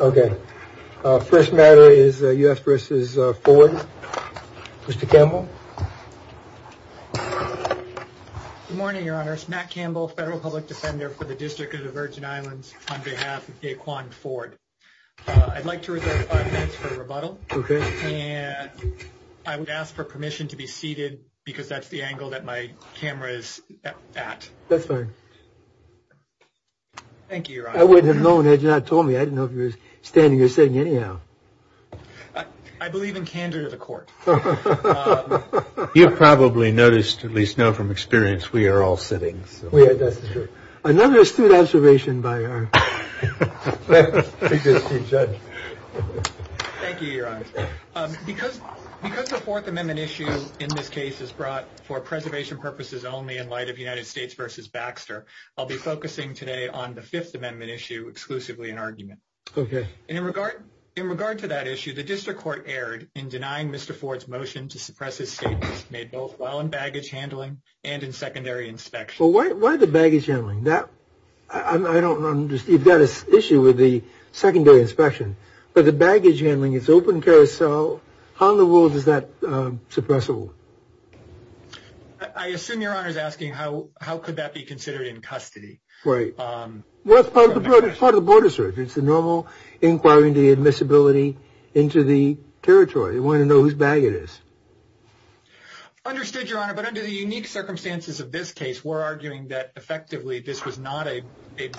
Okay. First matter is U.S. v. Forde. Mr. Campbell. Good morning, Your Honor. It's Matt Campbell, Federal Public Defender for the District of the Virgin Islands, on behalf of Daquan Forde. I'd like to reserve five minutes for rebuttal. Okay. And I would ask for permission to be seated because that's the angle that my camera is at. Thank you, Your Honor. I wouldn't have known had you not told me. I didn't know if you were standing or sitting anyhow. I believe in candor to the court. You've probably noticed, at least now from experience, we are all sitting. We are. That's true. Another astute observation by our judge. Thank you, Your Honor. Because the Fourth Amendment issue in this case is brought for preservation purposes only in light of United States v. Baxter, I'll be focusing today on the Fifth Amendment issue exclusively in argument. Okay. And in regard to that issue, the district court erred in denying Mr. Forde's motion to suppress his statements made both while in baggage handling and in secondary inspection. Well, why the baggage handling? I don't understand. You've got an issue with the secondary inspection. But the baggage handling is open carousel. How in the world is that suppressible? I assume Your Honor is asking how could that be considered in custody? Right. Well, it's part of the border search. It's the normal inquiry into the admissibility into the territory. They want to know whose bag it is. Understood, Your Honor. But under the unique circumstances of this case, we're arguing that effectively this was not a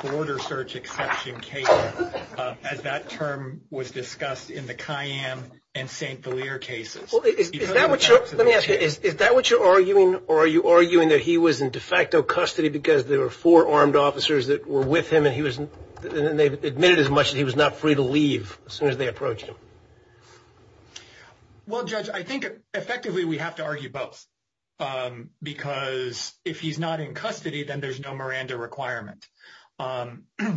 border search exception case, as that term was discussed in the Cayenne and St. Valier cases. Let me ask you, is that what you're arguing or are you arguing that he was in de facto custody because there were four armed officers that were with him and he was and they admitted as much as he was not free to leave as soon as they approached him? Well, Judge, I think effectively we have to argue both because if he's not in custody, then there's no Miranda requirement.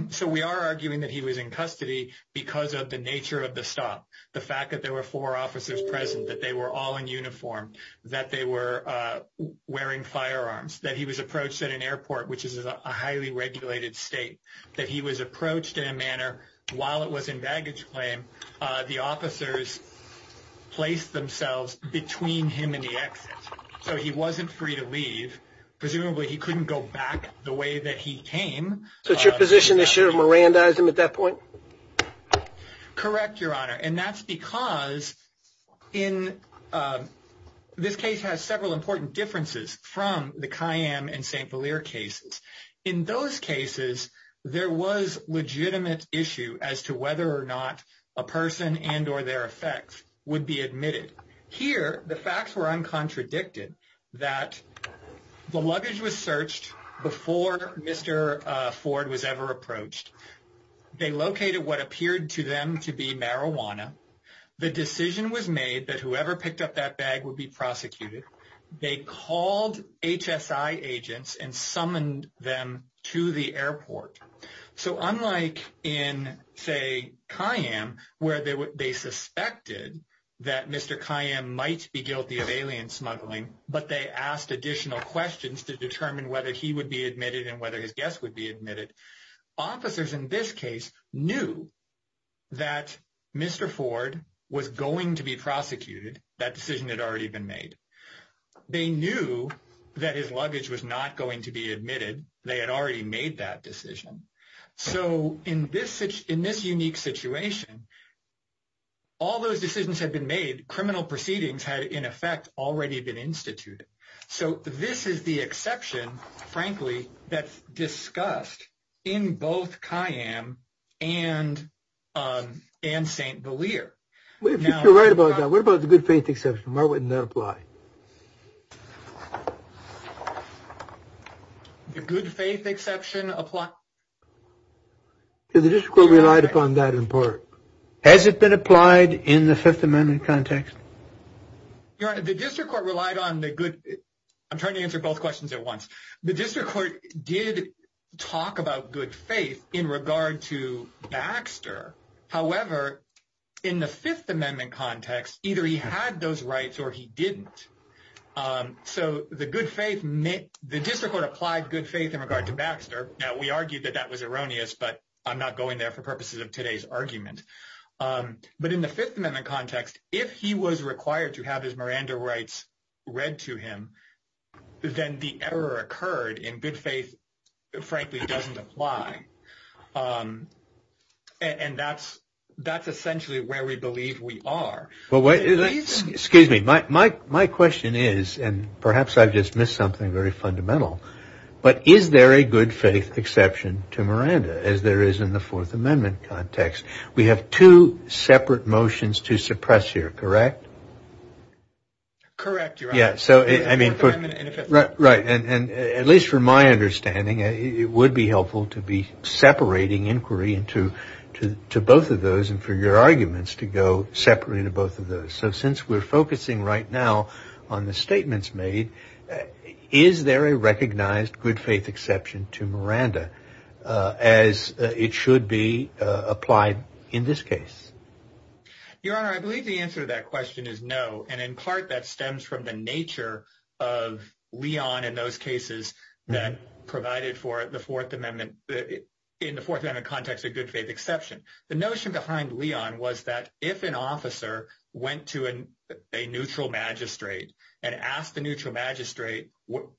So we are arguing that he was in custody because of the nature of the stop, the fact that there were four officers present, that they were all in uniform, that they were wearing firearms, that he was approached at an airport, which is a highly regulated state, that he was approached in a manner. While it was in baggage claim, the officers placed themselves between him and the exit. So he wasn't free to leave. Presumably he couldn't go back the way that he came. So it's your position they should have Mirandized him at that point? Correct, Your Honor. And that's because in this case has several important differences from the Cayenne and St. Valier cases. In those cases, there was legitimate issue as to whether or not a person and or their effects would be admitted here. The facts were uncontradicted that the luggage was searched before Mr. Ford was ever approached. They located what appeared to them to be marijuana. The decision was made that whoever picked up that bag would be prosecuted. They called HSI agents and summoned them to the airport. So unlike in, say, Cayenne, where they suspected that Mr. Cayenne might be guilty of alien smuggling, but they asked additional questions to determine whether he would be admitted and whether his guests would be admitted. Officers in this case knew that Mr. Ford was going to be prosecuted. That decision had already been made. They knew that his luggage was not going to be admitted. They had already made that decision. So in this in this unique situation. All those decisions have been made. Criminal proceedings had, in effect, already been instituted. So this is the exception, frankly, that's discussed in both Cayenne and and St. If you're right about that, what about the good faith exception? Why wouldn't that apply? The good faith exception apply. The district relied upon that in part. Has it been applied in the Fifth Amendment context? The district court relied on the good. I'm trying to answer both questions at once. The district court did talk about good faith in regard to Baxter. However, in the Fifth Amendment context, either he had those rights or he didn't. So the good faith meant the district court applied good faith in regard to Baxter. Now, we argued that that was erroneous, but I'm not going there for purposes of today's argument. But in the Fifth Amendment context, if he was required to have his Miranda rights read to him, then the error occurred in good faith, frankly, doesn't apply. And that's that's essentially where we believe we are. Well, excuse me. My my my question is, and perhaps I've just missed something very fundamental. But is there a good faith exception to Miranda as there is in the Fourth Amendment context? We have two separate motions to suppress here, correct? Correct. Yeah. So I mean, right. And at least from my understanding, it would be helpful to be separating inquiry into two, to both of those and for your arguments to go separately to both of those. So since we're focusing right now on the statements made, is there a recognized good faith exception to Miranda as it should be applied in this case? Your Honor, I believe the answer to that question is no. And in part, that stems from the nature of Leon in those cases that provided for the Fourth Amendment. In the Fourth Amendment context, a good faith exception. The notion behind Leon was that if an officer went to a neutral magistrate and asked the neutral magistrate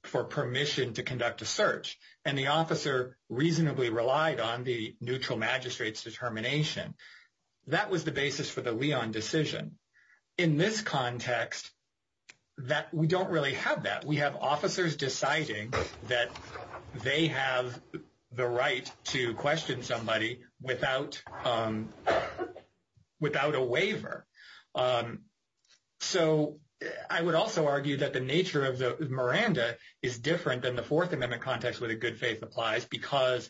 for permission to conduct a search and the officer reasonably relied on the neutral magistrate's determination, that was the basis for the Leon decision. In this context, we don't really have that. We have officers deciding that they have the right to question somebody without a waiver. So I would also argue that the nature of the Miranda is different than the Fourth Amendment context where the good faith applies, because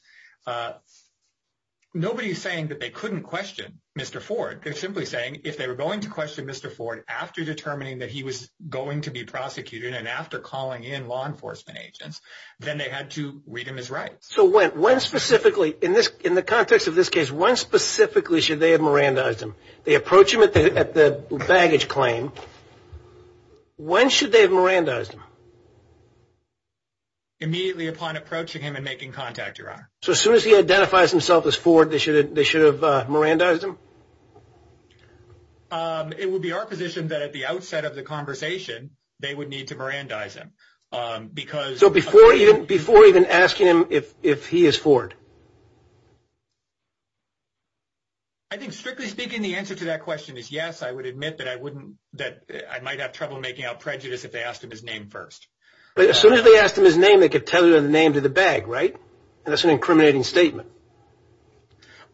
nobody is saying that they couldn't question Mr. Ford. They're simply saying if they were going to question Mr. Ford after determining that he was going to be prosecuted and after calling in law enforcement agents, then they had to read him his rights. So when specifically, in the context of this case, when specifically should they have Mirandized him? They approach him at the baggage claim. When should they have Mirandized him? Immediately upon approaching him and making contact, Your Honor. So as soon as he identifies himself as Ford, they should have Mirandized him? It would be our position that at the outset of the conversation, they would need to Mirandize him. So before even asking him if he is Ford? I think strictly speaking, the answer to that question is yes. I would admit that I might have trouble making out prejudice if they asked him his name first. But as soon as they asked him his name, they could tell you the name to the bag, right? And that's an incriminating statement.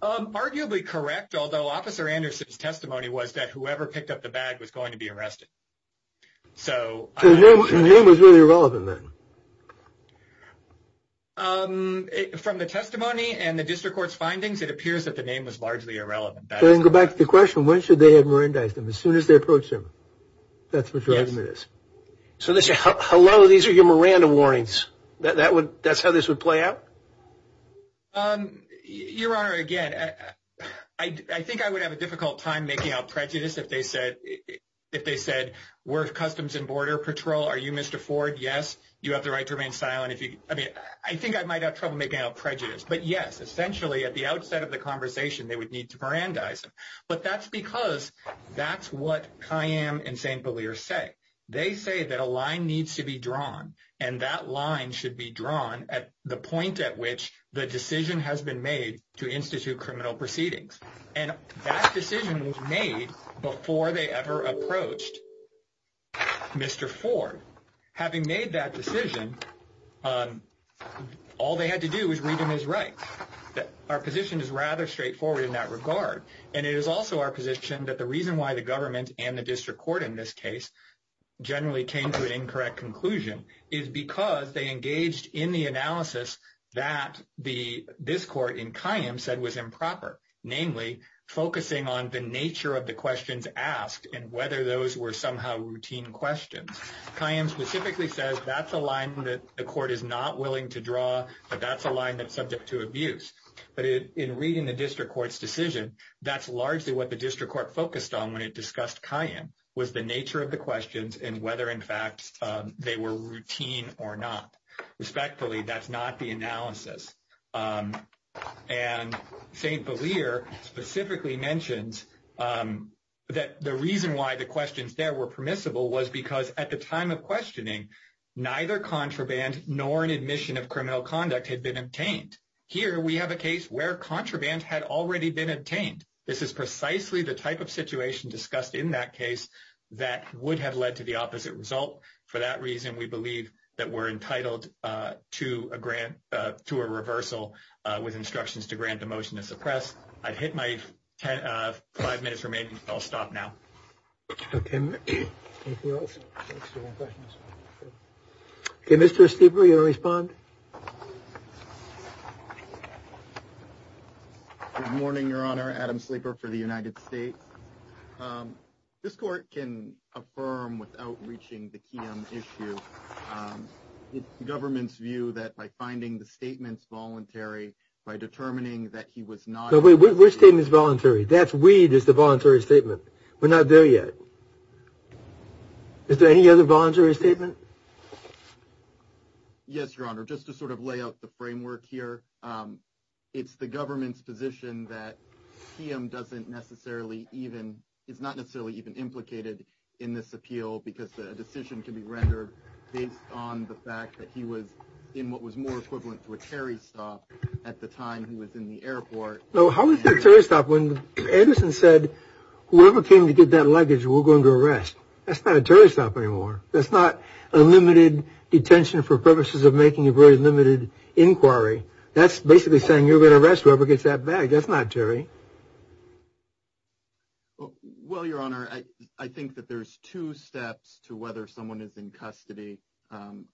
Arguably correct, although Officer Anderson's testimony was that whoever picked up the bag was going to be arrested. So the name was really irrelevant then. From the testimony and the district court's findings, it appears that the name was largely irrelevant. Going back to the question, when should they have Mirandized him? As soon as they approach him. That's what your argument is. So they say, hello, these are your Miranda warnings. That's how this would play out? Your Honor, again, I think I would have a difficult time making out prejudice if they said, we're Customs and Border Patrol, are you Mr. Ford? Yes. You have the right to remain silent. I mean, I think I might have trouble making out prejudice. But, yes, essentially at the outset of the conversation, they would need to Mirandize him. But that's because that's what Kayyam and St. Beliar say. They say that a line needs to be drawn, and that line should be drawn at the point at which the decision has been made to institute criminal proceedings. And that decision was made before they ever approached Mr. Ford. Having made that decision, all they had to do was read him his rights. Our position is rather straightforward in that regard. And it is also our position that the reason why the government and the district court in this case generally came to an incorrect conclusion is because they engaged in the analysis that this court in Kayyam said was improper, namely focusing on the nature of the questions asked and whether those were somehow routine questions. Kayyam specifically says that's a line that the court is not willing to draw, that that's a line that's subject to abuse. But in reading the district court's decision, that's largely what the district court focused on when it discussed Kayyam, was the nature of the questions and whether, in fact, they were routine or not. Respectfully, that's not the analysis. And St. Valir specifically mentions that the reason why the questions there were permissible was because at the time of questioning, neither contraband nor an admission of criminal conduct had been obtained. Here we have a case where contraband had already been obtained. This is precisely the type of situation discussed in that case that would have led to the opposite result. For that reason, we believe that we're entitled to a grant to a reversal with instructions to grant a motion to suppress. I'd hit my five minutes remaining. I'll stop now. Mr. Stieper, you respond. Good morning, Your Honor. Adam Sleeper for the United States. This court can affirm without reaching the issue. It's the government's view that by finding the statements voluntary, by determining that he was not. Which team is voluntary? That's weed is the voluntary statement. We're not there yet. Is there any other voluntary statement? Yes, Your Honor. Just to sort of lay out the framework here, it's the government's position that he doesn't necessarily even it's not necessarily even implicated in this appeal because the decision can be rendered based on the fact that he was in what was more equivalent to a Terry stop at the time he was in the airport. So how does it stop when Anderson said whoever came to get that luggage, we're going to arrest? That's not a Terry stop anymore. That's not a limited detention for purposes of making a very limited inquiry. That's basically saying you're going to arrest whoever gets that bag. That's not Terry. Well, Your Honor, I think that there's two steps to whether someone is in custody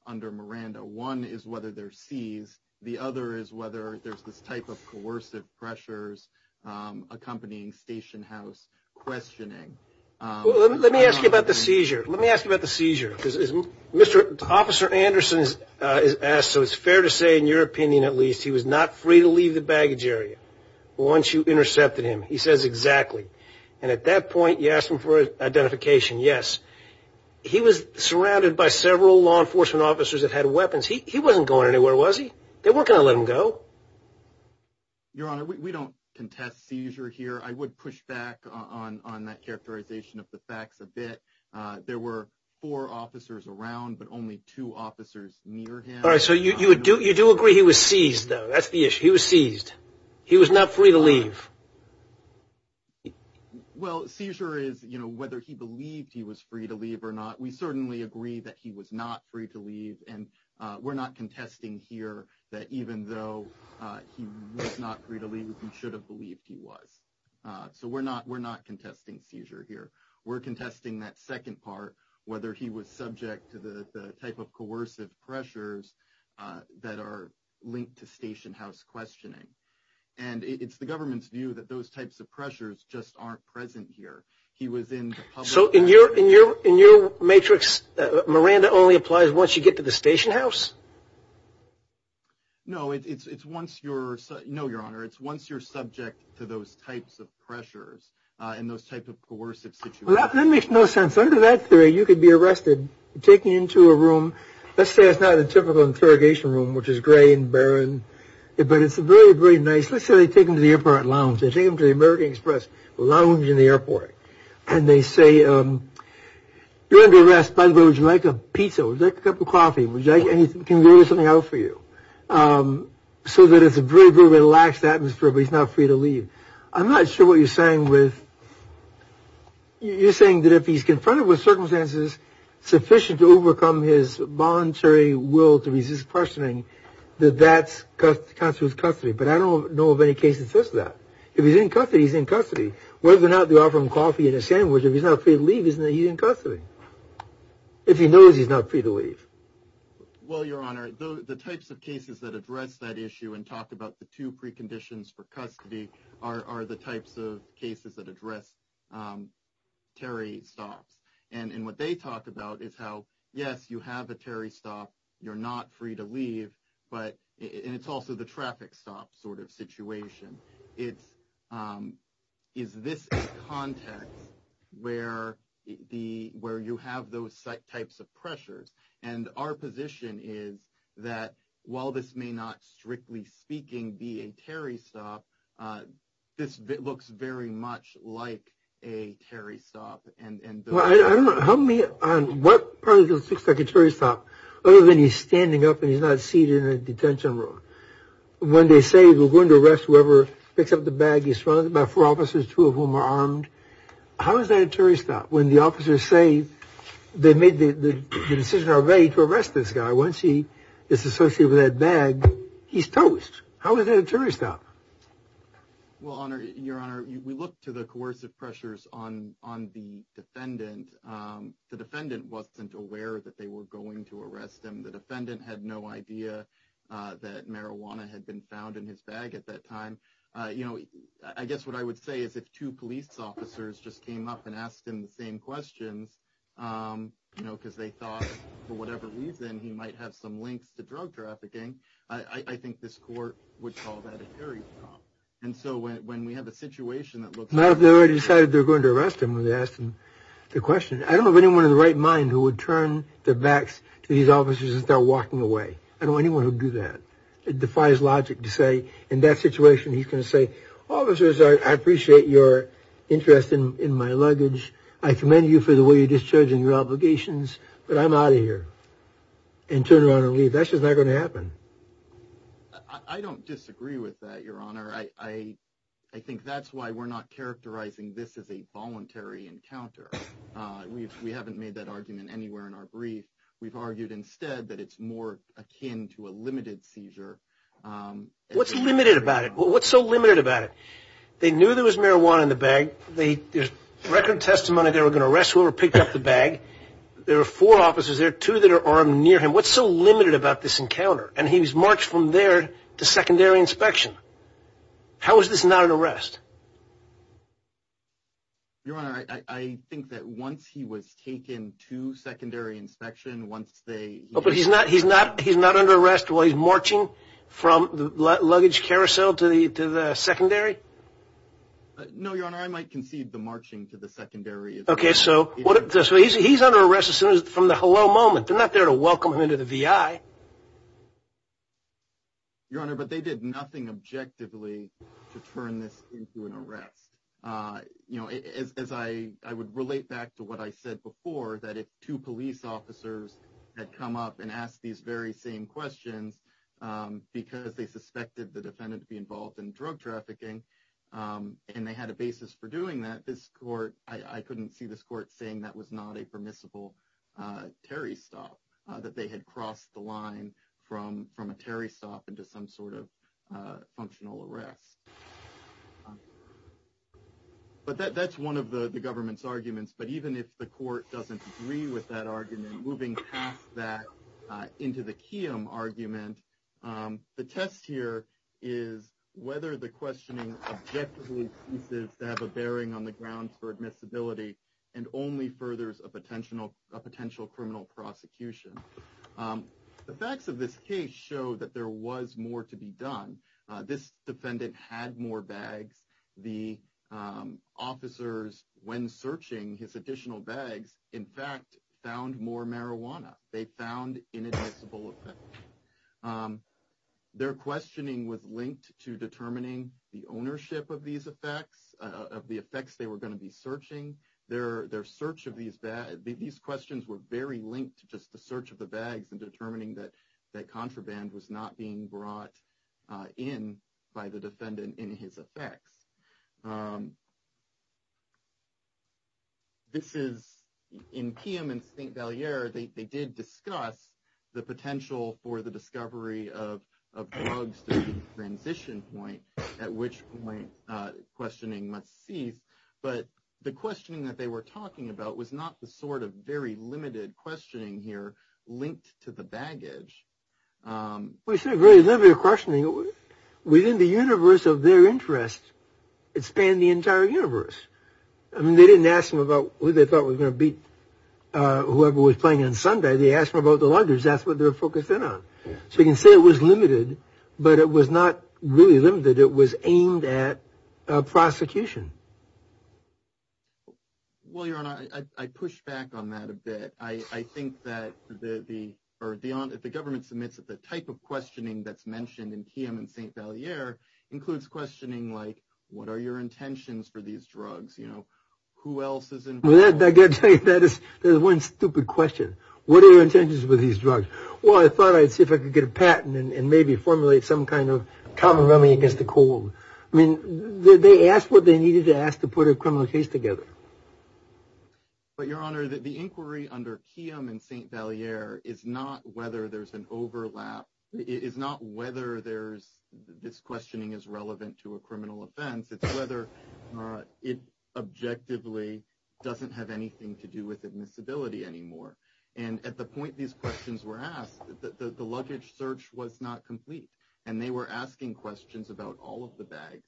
under Miranda. One is whether they're seized. The other is whether there's this type of coercive pressures accompanying station house questioning. Let me ask you about the seizure. Let me ask you about the seizure. Mr. Officer Anderson is asked. So it's fair to say, in your opinion, at least he was not free to leave the baggage area once you intercepted him. He says exactly. And at that point, you asked him for identification. Yes, he was surrounded by several law enforcement officers that had weapons. He wasn't going anywhere, was he? They were going to let him go. Your Honor, we don't contest seizure here. I would push back on that characterization of the facts a bit. There were four officers around, but only two officers near him. All right. So you would do you do agree he was seized, though. That's the issue. He was seized. He was not free to leave. Well, seizure is, you know, whether he believed he was free to leave or not. We certainly agree that he was not free to leave. And we're not contesting here that even though he was not free to leave, he should have believed he was. So we're not we're not contesting seizure here. We're contesting that second part, whether he was subject to the type of coercive pressures that are linked to station house questioning. And it's the government's view that those types of pressures just aren't present here. He was in. So in your in your in your matrix, Miranda only applies once you get to the station house. No, it's once you're no, Your Honor, it's once you're subject to those types of pressures and those types of coercive. That makes no sense. Under that theory, you could be arrested, taken into a room. Let's say it's not a typical interrogation room, which is gray and barren. But it's a very, very nice. Let's say they take him to the airport lounge. They take him to the American Express lounge in the airport. And they say, you're under arrest. By the way, would you like a pizza or a cup of coffee? Would you like anything? Can we get something out for you? So that it's a very, very relaxed atmosphere. But he's not free to leave. I'm not sure what you're saying with. You're saying that if he's confronted with circumstances sufficient to overcome his voluntary will to resist questioning, that that's because of his custody. But I don't know of any case that says that. If he's in custody, he's in custody. Whether or not they offer him coffee and a sandwich. If he's not free to leave, he's in custody. If he knows he's not free to leave. Well, Your Honor, the types of cases that address that issue and talk about the two preconditions for custody are the types of cases that address Terry stops. And what they talk about is how, yes, you have a Terry stop. You're not free to leave. But it's also the traffic stop sort of situation. It's is this a context where the where you have those types of pressures? And our position is that while this may not, strictly speaking, be a Terry stop, this looks very much like a Terry stop. And I don't know how me on what part of the secretary's top, other than he's standing up and he's not seated in a detention room when they say we're going to arrest whoever picks up the bag. He's surrounded by four officers, two of whom are armed. How is that a Terry stop when the officers say they made the decision to arrest this guy? Once he is associated with that bag, he's toast. How is that a Terry stop? Well, Your Honor, we look to the coercive pressures on on the defendant. The defendant wasn't aware that they were going to arrest him. The defendant had no idea that marijuana had been found in his bag at that time. You know, I guess what I would say is if two police officers just came up and asked him the same questions, you know, because they thought for whatever reason he might have some links to drug trafficking. I think this court would call that a Terry stop. And so when we have a situation that looks like they already decided they're going to arrest him when they asked him the question, I don't have anyone in the right mind who would turn their backs to these officers and start walking away. I don't want anyone to do that. It defies logic to say in that situation. He's going to say officers, I appreciate your interest in my luggage. I commend you for the way you're discharging your obligations, but I'm out of here and turn around and leave. That's just not going to happen. I don't disagree with that, Your Honor. I think that's why we're not characterizing this as a voluntary encounter. We haven't made that argument anywhere in our brief. We've argued instead that it's more akin to a limited seizure. What's limited about it? What's so limited about it? They knew there was marijuana in the bag. There's record testimony they were going to arrest whoever picked up the bag. There are four officers there, two that are armed near him. What's so limited about this encounter? And he's marched from there to secondary inspection. How is this not an arrest? Your Honor, I think that once he was taken to secondary inspection, once they— But he's not under arrest while he's marching from the luggage carousel to the secondary? No, Your Honor, I might concede the marching to the secondary— Okay, so he's under arrest from the hello moment. They're not there to welcome him into the VI. Your Honor, but they did nothing objectively to turn this into an arrest. You know, as I would relate back to what I said before, that if two police officers had come up and asked these very same questions because they suspected the defendant to be involved in drug trafficking and they had a basis for doing that, this court— I couldn't see this court saying that was not a permissible Terry stop, that they had crossed the line from a Terry stop into some sort of functional arrest. But that's one of the government's arguments. But even if the court doesn't agree with that argument, moving past that into the Kiem argument, the test here is whether the questioning objectively seems to have a bearing on the grounds for admissibility and only furthers a potential criminal prosecution. The facts of this case show that there was more to be done. This defendant had more bags. The officers, when searching his additional bags, in fact, found more marijuana. They found inadmissible effects. Their questioning was linked to determining the ownership of these effects, of the effects they were going to be searching. Their search of these—these questions were very linked to just the search of the bags and determining that contraband was not being brought in by the defendant in his effects. This is—in Kiem and St. Valier, they did discuss the potential for the discovery of drugs to be the transition point at which questioning must cease. But the questioning that they were talking about was not the sort of very limited questioning here linked to the baggage. It was a very limited questioning. Within the universe of their interest, it spanned the entire universe. I mean, they didn't ask them about who they thought was going to beat whoever was playing on Sunday. They asked them about the lungers. That's what they were focused in on. So you can say it was limited, but it was not really limited. It was aimed at prosecution. Well, Your Honor, I push back on that a bit. I think that the—or the government submits that the type of questioning that's mentioned in Kiem and St. Valier includes questioning like, what are your intentions for these drugs? You know, who else is involved? Well, I've got to tell you, that is one stupid question. What are your intentions with these drugs? Well, I thought I'd see if I could get a patent and maybe formulate some kind of common running against the cold. I mean, they asked what they needed to ask to put a criminal case together. But, Your Honor, the inquiry under Kiem and St. Valier is not whether there's an overlap. It's not whether this questioning is relevant to a criminal offense. It's whether it objectively doesn't have anything to do with admissibility anymore. And at the point these questions were asked, the luggage search was not complete. And they were asking questions about all of the bags.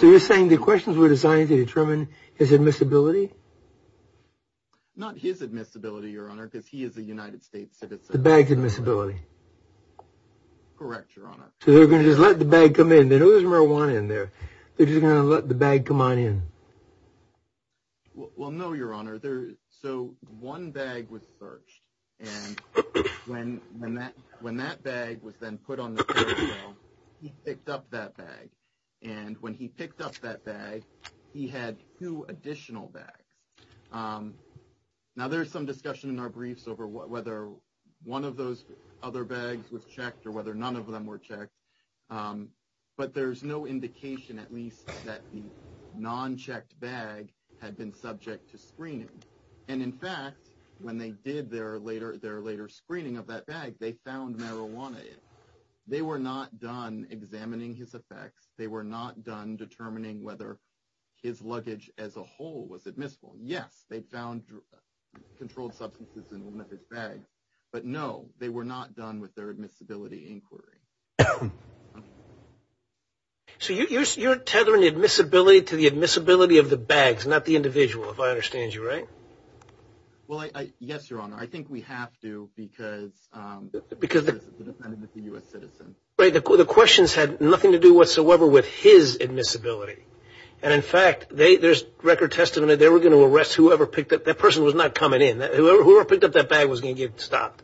So you're saying the questions were designed to determine his admissibility? Not his admissibility, Your Honor, because he is a United States citizen. The bag's admissibility. Correct, Your Honor. So they're going to just let the bag come in. They know there's marijuana in there. They're just going to let the bag come on in. Well, no, Your Honor. So one bag was searched. And when that bag was then put on the trail, he picked up that bag. And when he picked up that bag, he had two additional bags. Now, there's some discussion in our briefs over whether one of those other bags was checked or whether none of them were checked. But there's no indication, at least, that the non-checked bag had been subject to screening. And in fact, when they did their later screening of that bag, they found marijuana in it. They were not done examining his effects. They were not done determining whether his luggage as a whole was admissible. Yes, they found controlled substances in one of his bags. But no, they were not done with their admissibility inquiry. So you're tethering admissibility to the admissibility of the bags, not the individual, if I understand you right? Well, yes, Your Honor. I think we have to because they're citizens. They're dependent on the U.S. citizen. Right. The questions had nothing to do whatsoever with his admissibility. And in fact, there's record testimony they were going to arrest whoever picked up. That person was not coming in. Whoever picked up that bag was going to get stopped.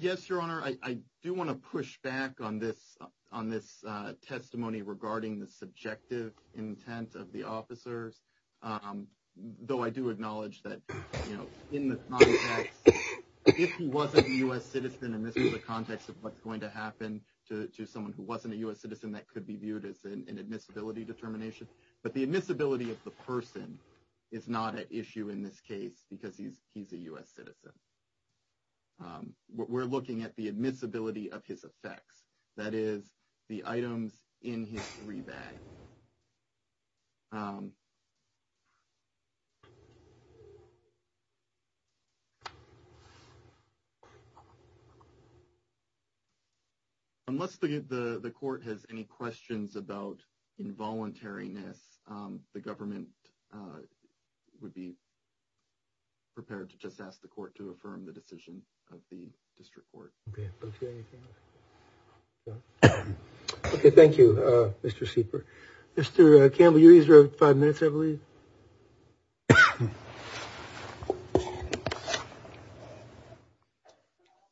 Yes, Your Honor. I do want to push back on this testimony regarding the subjective intent of the officers. Though I do acknowledge that, you know, in the context, if he wasn't a U.S. citizen, and this is a context of what's going to happen to someone who wasn't a U.S. citizen, that could be viewed as an admissibility determination. But the admissibility of the person is not an issue in this case because he's a U.S. citizen. We're looking at the admissibility of his effects, that is, the items in his three bags. Unless the court has any questions about involuntariness, the government would be prepared to just ask the court to affirm the decision of the district court. Thank you, Mr. Sieper. Mr. Campbell, you're five minutes, I believe.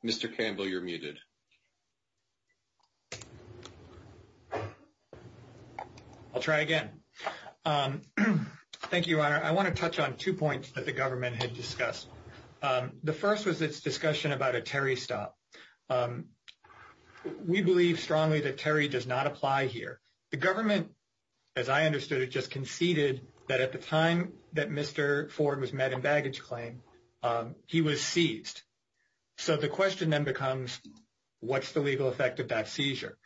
I'll try again. Thank you, Your Honor. I want to touch on two points that the government had discussed. The first was its discussion about a Terry stop. We believe strongly that Terry does not apply here. The government, as I understood it, just conceded that at the time that Mr. Ford was met in baggage claim, he was seized. So the question then becomes, what's the legal effect of that seizure?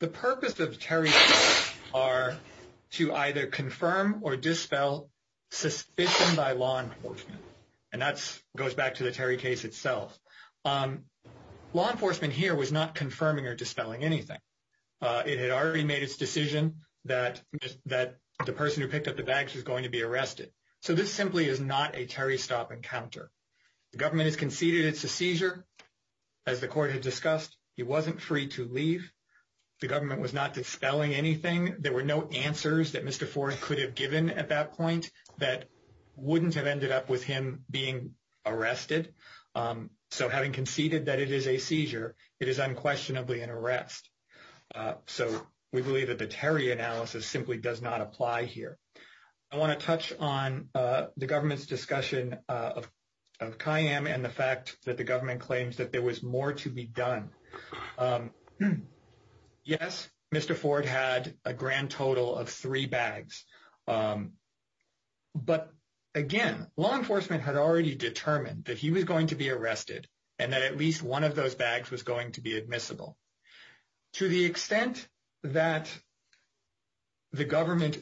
The purpose of Terry stops are to either confirm or dispel suspicion by law enforcement. And that goes back to the Terry case itself. Law enforcement here was not confirming or dispelling anything. It had already made its decision that the person who picked up the bags was going to be arrested. So this simply is not a Terry stop encounter. The government has conceded it's a seizure. As the court had discussed, he wasn't free to leave. The government was not dispelling anything. There were no answers that Mr. Ford could have given at that point that wouldn't have ended up with him being arrested. So having conceded that it is a seizure, it is unquestionably an arrest. So we believe that the Terry analysis simply does not apply here. I want to touch on the government's discussion of Kayyem and the fact that the government claims that there was more to be done. Yes, Mr. Ford had a grand total of three bags. But again, law enforcement had already determined that he was going to be arrested and that at least one of those bags was going to be admissible. To the extent that the government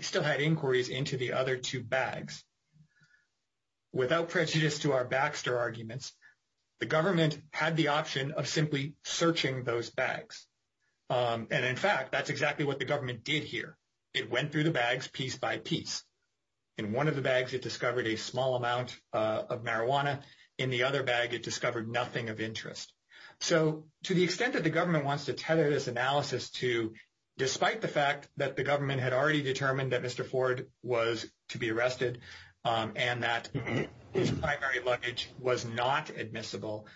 still had inquiries into the other two bags, without prejudice to our Baxter arguments, the government had the option of simply searching those bags. And in fact, that's exactly what the government did here. It went through the bags piece by piece. In one of the bags, it discovered a small amount of marijuana. In the other bag, it discovered nothing of interest. So to the extent that the government wants to tether this analysis to, despite the fact that the government had already determined that Mr. Ford was to be arrested and that his primary luggage was not admissible,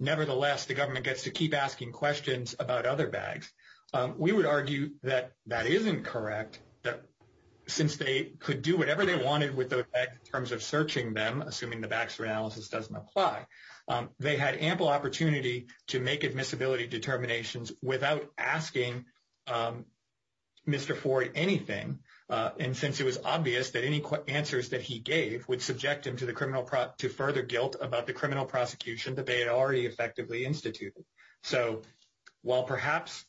nevertheless, the government gets to keep asking questions about other bags. We would argue that that isn't correct, that since they could do whatever they wanted with those bags in terms of searching them, assuming the Baxter analysis doesn't apply, they had ample opportunity to make admissibility determinations without asking Mr. Ford anything. And since it was obvious that any answers that he gave would subject him to further guilt about the criminal prosecution that they had already effectively instituted. So while perhaps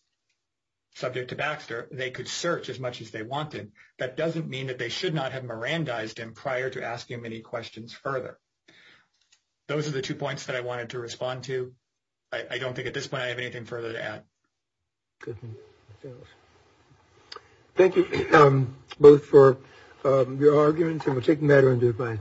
subject to Baxter, they could search as much as they wanted. That doesn't mean that they should not have Mirandized him prior to asking him any questions further. Those are the two points that I wanted to respond to. I don't think at this point I have anything further to add. Good. Thank you both for your arguments and we'll take a matter and do it by.